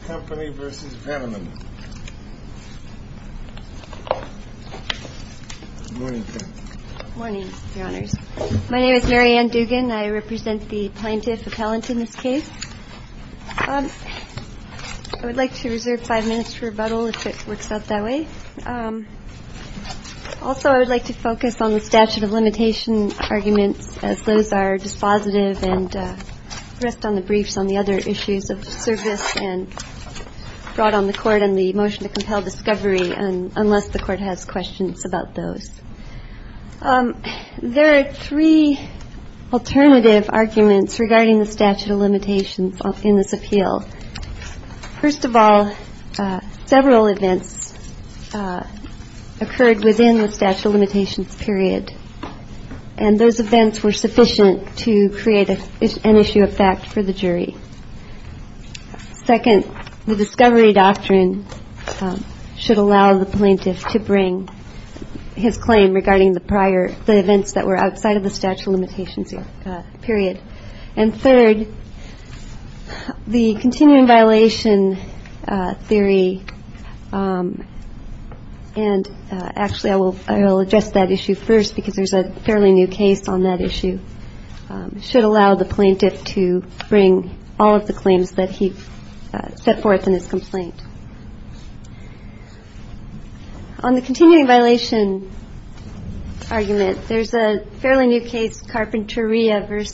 My name is Mary Ann Dugan. I represent the plaintiff appellant in this case. I would like to reserve five minutes for rebuttal if it works out that way. Also, I would like to focus on the statute of limitation arguments as those are dispositive and rest on the briefs on the other issues of service and brought on the court on the motion to compel discovery unless the court has questions about those. There are three alternative arguments regarding the statute of limitations in this appeal. First of all, several events occurred within the statute of limitations period and those events were sufficient to create an issue of fact for the jury. Second, the discovery doctrine should allow the plaintiff to bring his claim regarding the prior, the events that were outside of the statute of limitations period. And third, the continuing violation theory and actually I will address that issue first because there is a fairly new case on that issue, should allow the plaintiff to bring all of the claims that he set forth in his complaint. On the continuing violation argument, there is a fairly new case, Carpinteria v.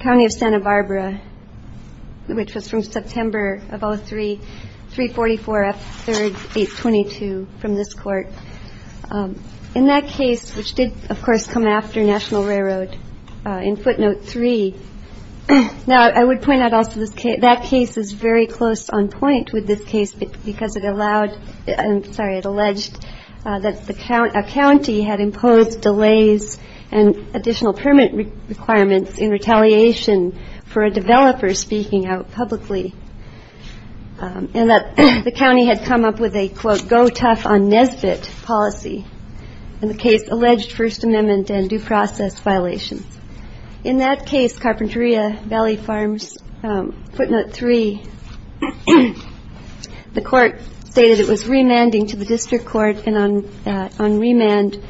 County of Santa Barbara, which was from In that case, which did, of course, come after National Railroad in footnote 3. Now, I would point out also that case is very close on point with this case because it allowed, I'm sorry, it alleged that a county had imposed delays and additional permit requirements in retaliation for a developer speaking out publicly and that the county had come up with a, quote, go tough on Nesbitt policy. In the case, alleged First Amendment and due process violations. In that case, Carpinteria Valley Farms, footnote 3, the court stated it was remanding to the district court and on remand,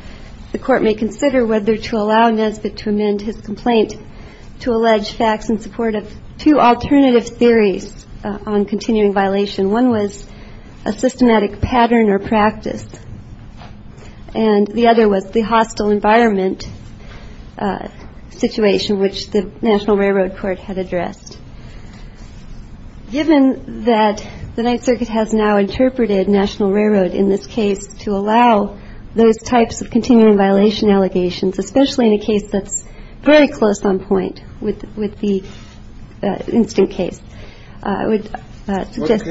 the court may consider whether to allow Nesbitt to amend his complaint to allege facts in support of two alternative theories on continuing violation. One was a systematic pattern or practice. And the other was the hostile environment situation, which the National Railroad court had addressed. Given that the Ninth Circuit has now interpreted National Railroad in this case to allow those types of continuing violation allegations, especially in a case that's very close on case, I would suggest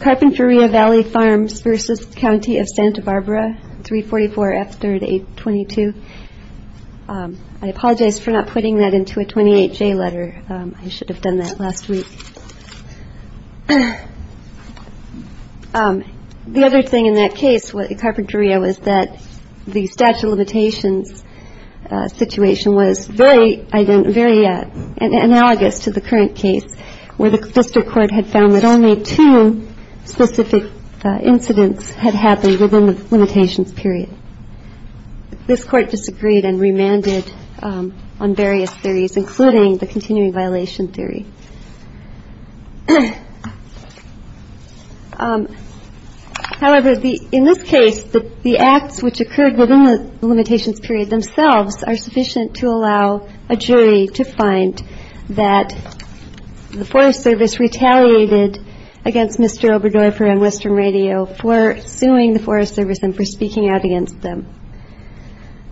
Carpinteria Valley Farms versus County of Santa Barbara. Three. Forty four after the 22. I apologize for not putting that into a 28 day letter. I should have done that last week. The other thing in that case, what the Carpinteria was, was that the statute of limitations situation was very, very analogous to the current case where the district court had found that only two specific incidents had happened within the limitations period. This court disagreed and remanded on various theories, including the continuing violation theory. However, the in this case, the acts which occurred within the limitations period themselves are sufficient to allow a jury to find that the Forest Service retaliated against Mr. Oberdorfer and Western Radio for suing the Forest Service and for speaking out against them.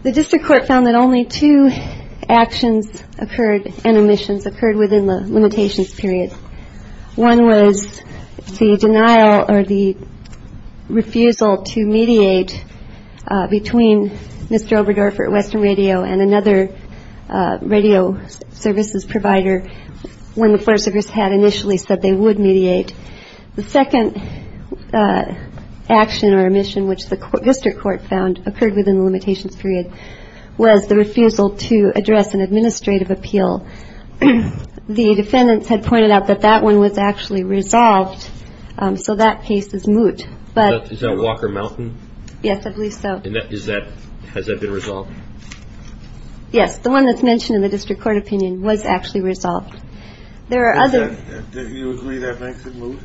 The district court found that only two actions occurred and omissions occurred within the limitations period. One was the denial or the refusal to mediate between Mr. Oberdorfer at Western Radio and another radio services provider when the Forest Service had initially said they would mediate. The second action or omission, which the district court found occurred within the limitations period, was the refusal to address an administrative appeal. The defendants had pointed out that that one was actually resolved. So that case is moot. But is that Walker Mountain? Yes, I believe so. Is that has that been resolved? Yes. The one that's mentioned in the district court opinion was actually resolved. There are other that you agree that makes it move.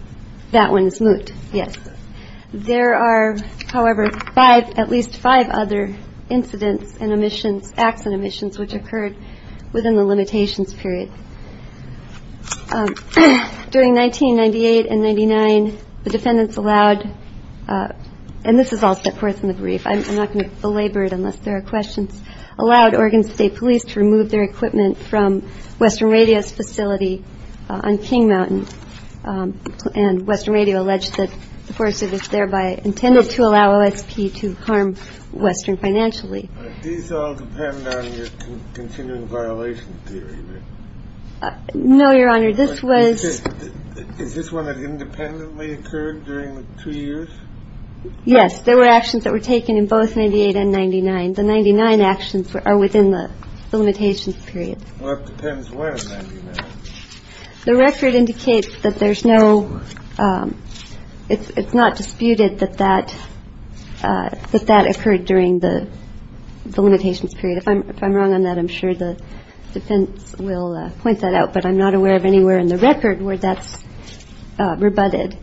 That one is moot. Yes. There are, however, five, at least five other incidents and omissions, acts and omissions which occurred within the limitations period during 1998 and 99. The defendants allowed and this is all set forth in the brief. I'm not going to belabor it unless there are questions. Allowed Oregon State Police to remove their equipment from Western Radio's facility on King Mountain. And Western Radio alleged that the Forest Service thereby intended to allow OSP to harm Western financially. These all depend on your continuing violation theory. No, Your Honor. This was this one that independently occurred during the two years. Yes. There were actions that were taken in both 98 and 99. The 99 actions are within the limitations period. The record indicates that there's no it's not disputed that that that that occurred during the limitations period. If I'm wrong on that, I'm sure the defense will point that out. But I'm not aware of anywhere in the record where that's rebutted.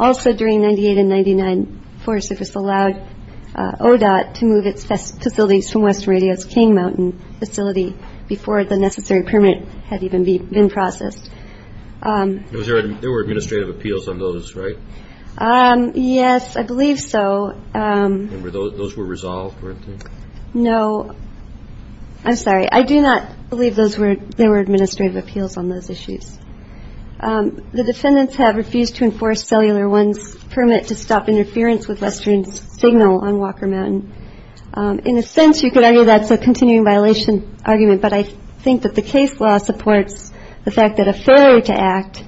Also, during 98 and 99, Forest Service allowed ODOT to move its facilities from Western Radio's King Mountain facility before the necessary permit had even been processed. There were administrative appeals on those. Right. Yes, I believe so. Those were resolved. No, I'm sorry. I do not believe those were there were administrative appeals on those issues. The defendants have refused to enforce cellular ones permit to stop interference with Western's signal on Walker Mountain. In a sense, you could argue that's a continuing violation argument. But I think that the case law supports the fact that a failure to act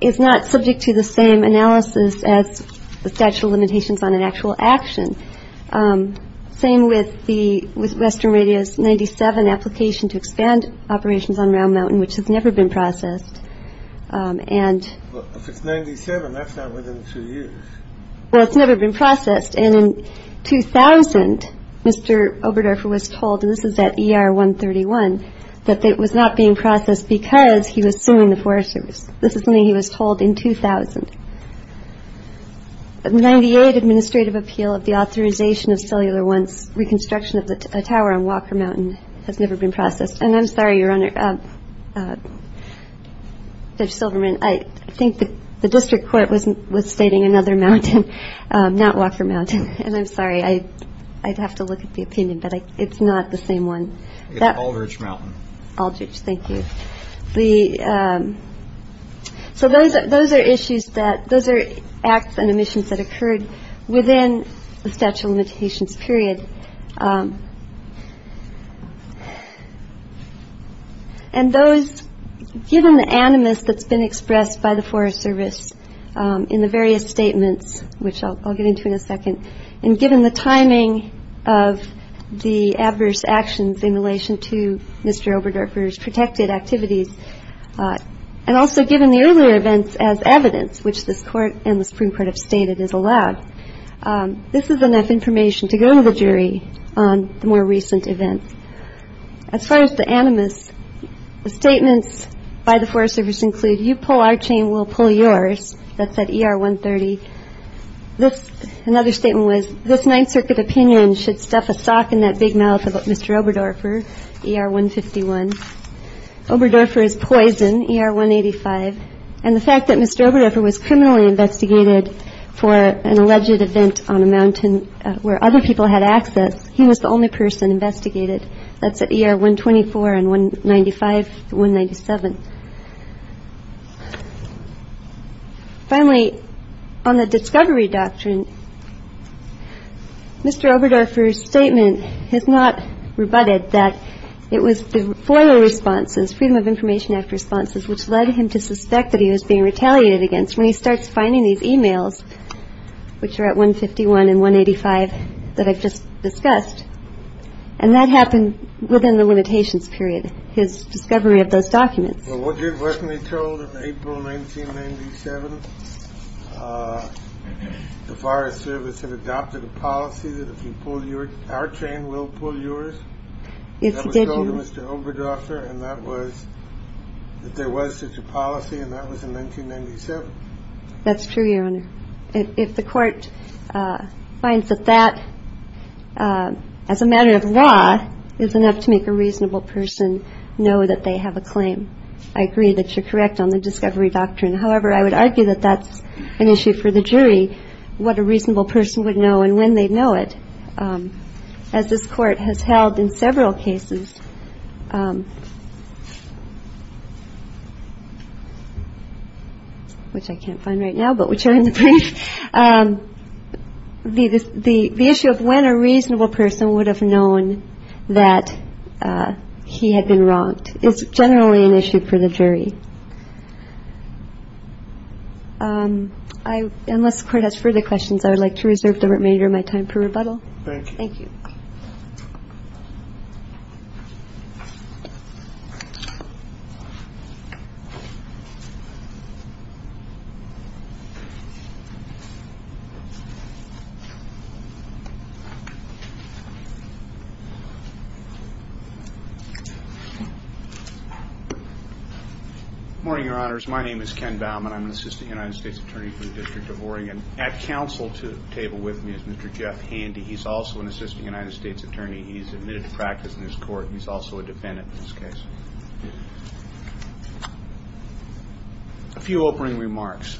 is not subject to the same analysis as the statute of limitations on an actual action. Same with the Western Radio's 97 application to expand operations on Round Mountain, which has never been processed. And if it's 97, that's not within two years. Well, it's never been processed. And in 2000, Mr. Oberdorfer was told, and this is at ER 131, that it was not being processed because he was suing the Forest Service. This is something he was told in 2000. The 98 administrative appeal of the authorization of cellular ones reconstruction of the tower on Walker Mountain has never been processed. And I'm sorry, Your Honor, Judge Silverman, I think the district court was stating another mountain, not Walker Mountain. And I'm sorry, I'd have to look at the opinion, but it's not the same one. It's Aldrich Mountain. Aldrich, thank you. The. So those are those are issues that those are acts and emissions that occurred within the statute of limitations period. And those given the animus that's been expressed by the Forest Service in the various statements, which I'll get into in a second. And given the timing of the adverse actions in relation to Mr. Oberdorfer's protected activities, and also given the earlier events as evidence, which this court and the Supreme Court have stated is allowed, this is enough information to go to the jury on the more recent events. As far as the animus, the statements by the Forest Service include you pull our chain, we'll pull yours. That's at one thirty. This. Another statement was this Ninth Circuit opinion should stuff a sock in that big mouth of Mr. Oberdorfer. One fifty one. Oberdorfer is poison. You're one eighty five. And the fact that Mr. Oberdorfer was criminally investigated for an alleged event on a mountain where other people had access. He was the only person investigated. That's a year. One twenty four and one ninety five. One ninety seven. Finally, on the discovery doctrine. Mr. Oberdorfer's statement has not rebutted that it was the FOIA responses, Freedom of Information Act responses, which led him to suspect that he was being retaliated against when he starts finding these e-mails, which are at one fifty one and one eighty five that I've just discussed. And that happened within the limitations period. His discovery of those documents. Well, what you've recently told April 1997, the Forest Service had adopted a policy that if you pull your chain, we'll pull yours. It's a good Mr. Oberdorfer. And that was that there was such a policy. And that was in 1997. That's true, Your Honor. If the court finds that that as a matter of law is enough to make a reasonable person know that they have a claim. I agree that you're correct on the discovery doctrine. However, I would argue that that's an issue for the jury. What a reasonable person would know and when they know it, as this court has held in several cases. Which I can't find right now, but which are in the brief. The issue of when a reasonable person would have known that he had been wronged is generally an issue for the jury. Unless the court has further questions, I would like to reserve the remainder of my time for rebuttal. Thank you. Morning, Your Honors. My name is Ken Baumann. I'm an Assistant United States Attorney for the District of Oregon. At counsel to the table with me is Mr. Jeff Handy. He's also an Assistant United States Attorney. He's admitted to practice in this court. He's also a defendant in this case. A few opening remarks.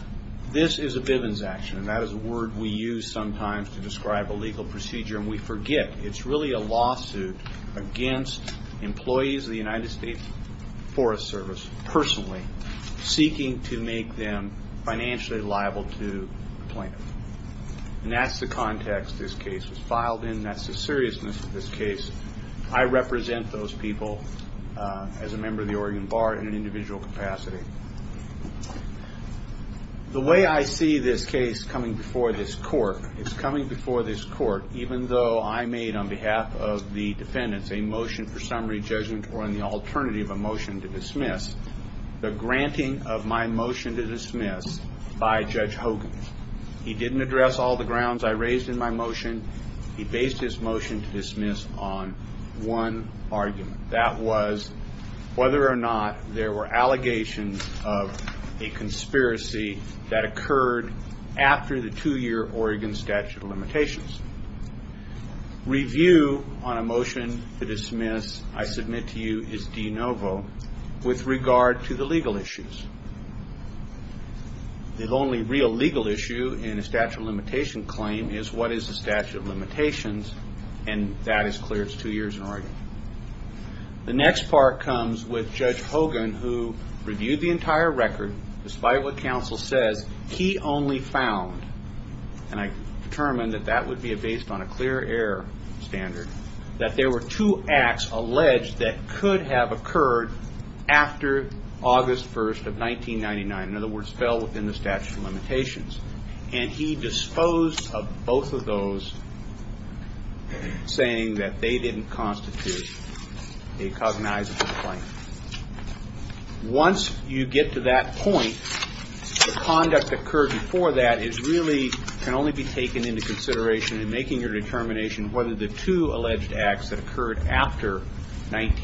This is a Bivens action. And that is a word we use sometimes to describe a legal procedure. And we forget it's really a lawsuit against employees of the United States Forest Service, personally. Seeking to make them financially liable to the plaintiff. And that's the context this case is filed in. That's the seriousness of this case. I represent those people as a member of the Oregon Bar in an individual capacity. The way I see this case coming before this court is coming before this court, even though I made on behalf of the defendants a motion for summary judgment or in the alternative a motion to dismiss, the granting of my motion to dismiss by Judge Hogan. He didn't address all the grounds I raised in my motion. He based his motion to dismiss on one argument. That was whether or not there were allegations of a conspiracy that occurred after the two-year Oregon statute of limitations. Review on a motion to dismiss, I submit to you, is de novo with regard to the legal issues. The only real legal issue in a statute of limitation claim is what is the statute of limitations. And that is clear. It's two years in Oregon. The next part comes with Judge Hogan, who reviewed the entire record, despite what counsel says, he only found, and I determined that that would be based on a clear error standard, that there were two acts alleged that could have occurred after August 1st of 1999. In other words, fell within the statute of limitations. And he disposed of both of those, saying that they didn't constitute a cognizable claim. Once you get to that point, the conduct occurred before that can only be taken into consideration in making your determination whether the two alleged acts that occurred after August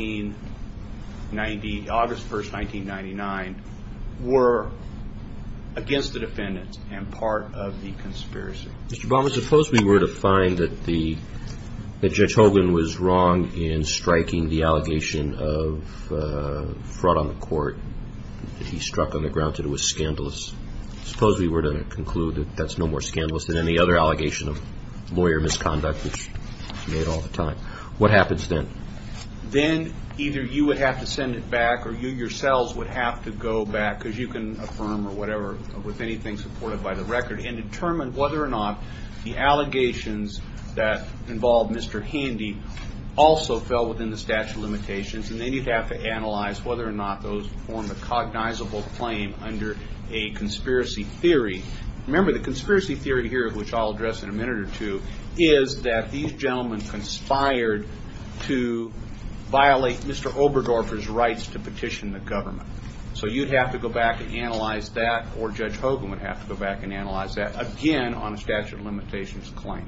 1st, 1999 were against the defendant and part of the conspiracy. Mr. Barber, suppose we were to find that Judge Hogan was wrong in striking the allegation of fraud on the court that he struck on the grounds that it was scandalous. Suppose we were to conclude that that's no more scandalous than any other allegation of lawyer misconduct, which he made all the time. What happens then? Then either you would have to send it back or you yourselves would have to go back, because you can affirm or whatever with anything supported by the record, and determine whether or not the allegations that involved Mr. Handy also fell within the statute of limitations. And then you'd have to analyze whether or not those form a cognizable claim under a conspiracy theory. Remember, the conspiracy theory here, which I'll address in a minute or two, is that these gentlemen conspired to violate Mr. Oberdorfer's rights to petition the government. So you'd have to go back and analyze that, or Judge Hogan would have to go back and analyze that again on a statute of limitations claim.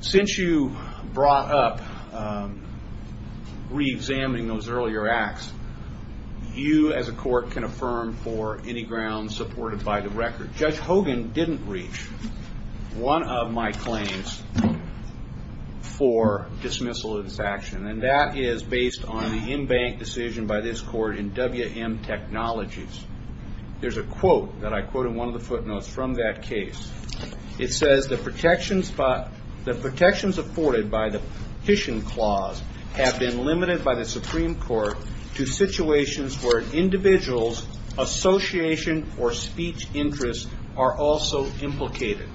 Since you brought up reexamining those earlier acts, you as a court can affirm for any grounds supported by the record. Judge Hogan didn't reach one of my claims for dismissal of this action, and that is based on the in-bank decision by this court in WM Technologies. There's a quote that I quote in one of the footnotes from that case. It says, The protections afforded by the petition clause have been limited by the Supreme Court to situations where an individual's association or speech interests are also implicated.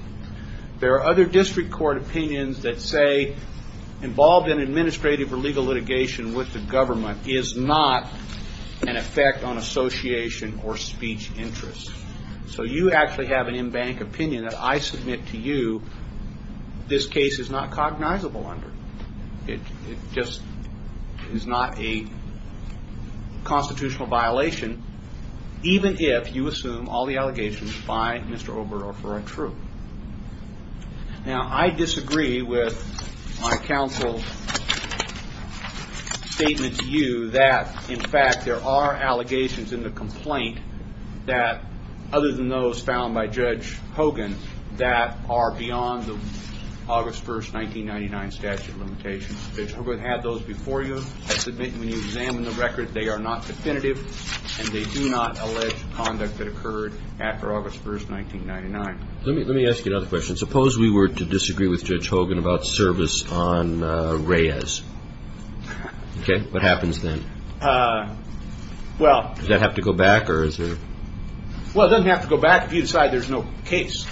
There are other district court opinions that say involved in administrative or legal litigation with the government is not an effect on association or speech interests. So you actually have an in-bank opinion that I submit to you this case is not cognizable under. It just is not a constitutional violation, even if you assume all the allegations by Mr. Oberdorfer are true. Now, I disagree with my counsel's statement to you that, in fact, there are allegations in the complaint that, other than those found by Judge Hogan, that are beyond the August 1st, 1999 statute limitations. Judge Hogan had those before you. I submit when you examine the record, they are not definitive, and they do not allege conduct that occurred after August 1st, 1999. Let me ask you another question. Suppose we were to disagree with Judge Hogan about service on Reyes. Okay. What happens then? Does that have to go back? Well, it doesn't have to go back if you decide there's no case.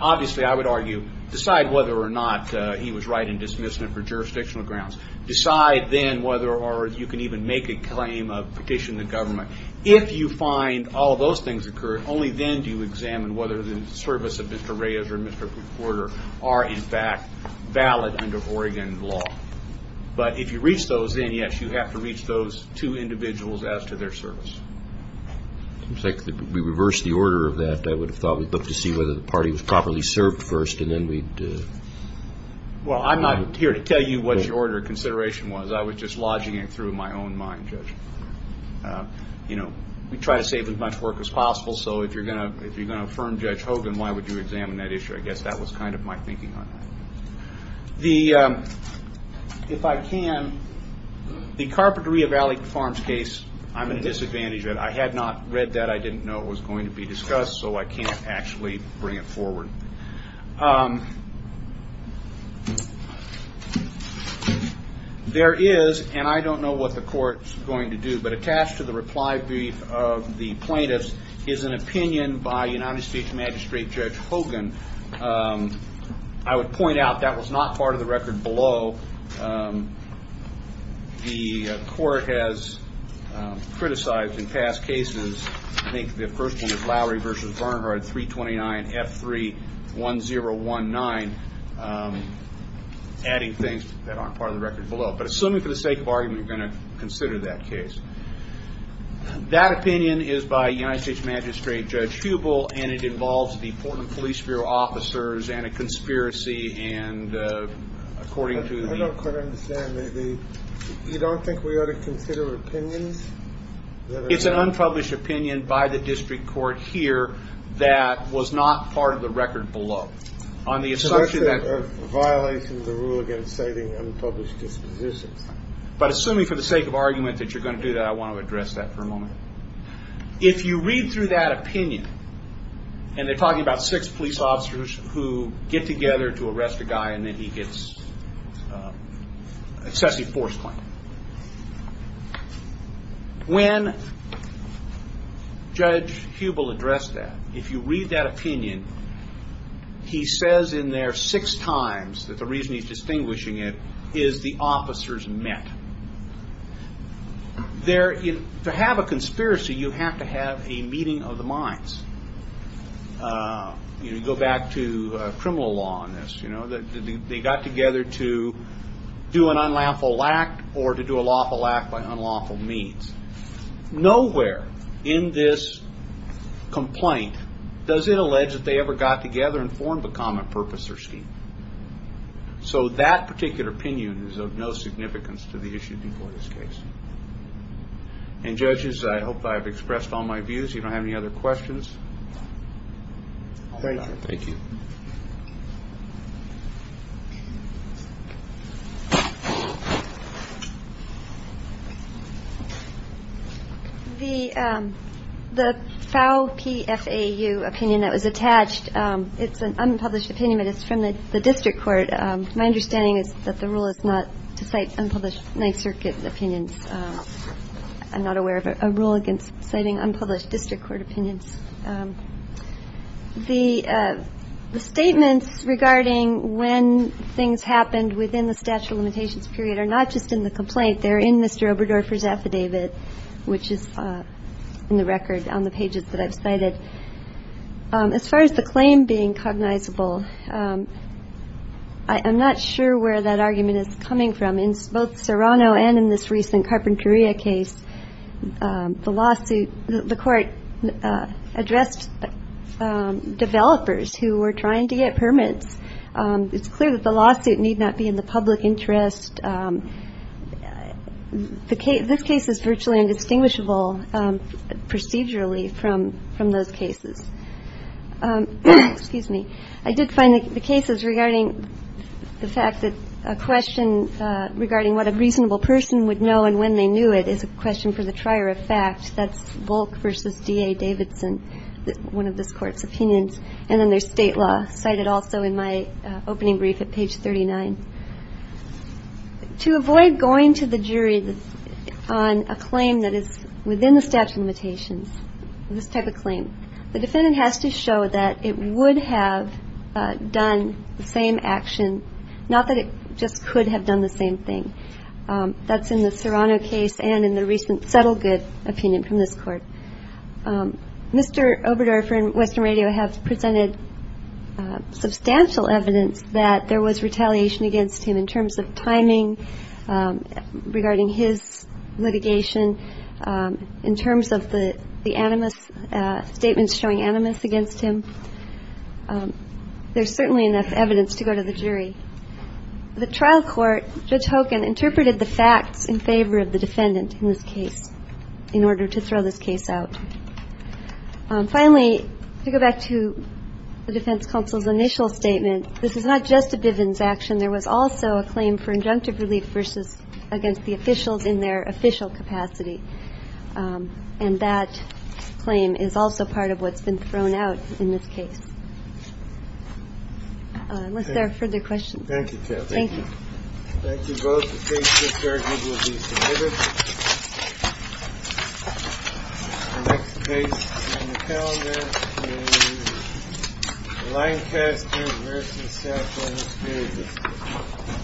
Obviously, I would argue decide whether or not he was right in dismissing it for jurisdictional grounds. Decide then whether or not you can even make a claim of petitioning the government. If you find all those things occurred, only then do you examine whether the service of Mr. Reyes or Mr. Porter are, in fact, valid under Oregon law. But if you reach those, then, yes, you have to reach those two individuals as to their service. It seems like we reversed the order of that. I would have thought we'd look to see whether the party was properly served first, and then we'd... Well, I'm not here to tell you what your order of consideration was. I was just lodging it through my own mind, Judge. You know, we try to save as much work as possible, so if you're going to affirm Judge Hogan, why would you examine that issue? I guess that was kind of my thinking on that. If I can, the Carpinteria Valley Farms case, I'm at a disadvantage. I had not read that. I didn't know it was going to be discussed, so I can't actually bring it forward. There is, and I don't know what the court's going to do, but attached to the reply brief of the plaintiffs is an opinion by United States Magistrate Judge Hogan I would point out that was not part of the record below. The court has criticized in past cases, I think the first one is Lowry v. Bernhardt, 329 F3 1019, adding things that aren't part of the record below. But assuming for the sake of argument, we're going to consider that case. That opinion is by United States Magistrate Judge Hubel, and it involves the Portland Police Bureau officers and a conspiracy. I don't quite understand. You don't think we ought to consider opinions? It's an unpublished opinion by the district court here that was not part of the record below. So that's a violation of the rule against citing unpublished dispositions. But assuming for the sake of argument that you're going to do that, I want to address that for a moment. If you read through that opinion, and they're talking about six police officers who get together to arrest a guy and then he gets an excessive force claim. When Judge Hubel addressed that, if you read that opinion, he says in there six times that the reason he's distinguishing it is the officers met. To have a conspiracy, you have to have a meeting of the minds. You go back to criminal law on this. They got together to do an unlawful act or to do a lawful act by unlawful means. Nowhere in this complaint does it allege that they ever got together and formed a common purpose or scheme. So that particular opinion is of no significance to the issue before this case. And judges, I hope I've expressed all my views. You don't have any other questions. Thank you. The foul PFAU opinion that was attached. It's an unpublished opinion, but it's from the district court. My understanding is that the rule is not to cite unpublished Ninth Circuit opinions. I'm not aware of a rule against citing unpublished district court opinions. The statements regarding when things happened within the statute of limitations period are not just in the complaint. They're in Mr. Oberdorfer's affidavit, which is in the record on the pages that I've cited. As far as the claim being cognizable, I'm not sure where that argument is coming from. In both Serrano and in this recent Carpinteria case, the lawsuit, the court addressed developers who were trying to get permits. It's clear that the lawsuit need not be in the public interest. This case is virtually indistinguishable procedurally from those cases. Excuse me. I did find the cases regarding the fact that a question regarding what a reasonable person would know and when they knew it is a question for the trier of fact. That's Volk v. D.A. Davidson, one of this court's opinions. And then there's state law cited also in my opening brief at page 39. To avoid going to the jury on a claim that is within the statute of limitations, this type of claim, the defendant has to show that it would have done the same action, not that it just could have done the same thing. That's in the Serrano case and in the recent Settlegood opinion from this court. Mr. Oberdorfer and Western Radio have presented substantial evidence that there was retaliation against him in terms of timing regarding his litigation, in terms of the animus statements showing animus against him. There's certainly enough evidence to go to the jury. The trial court, Judge Hogan, interpreted the facts in favor of the defendant in this case in order to throw this case out. Finally, to go back to the defense counsel's initial statement, this is not just a Bivens action. There was also a claim for injunctive relief versus against the officials in their official capacity. And that claim is also part of what's been thrown out in this case. Unless there are further questions. Thank you, Kathy. Thank you. Thank you both. The case is adjourned and will be submitted. The next case on the calendar is Lancaster v. Settlegood. Thank you.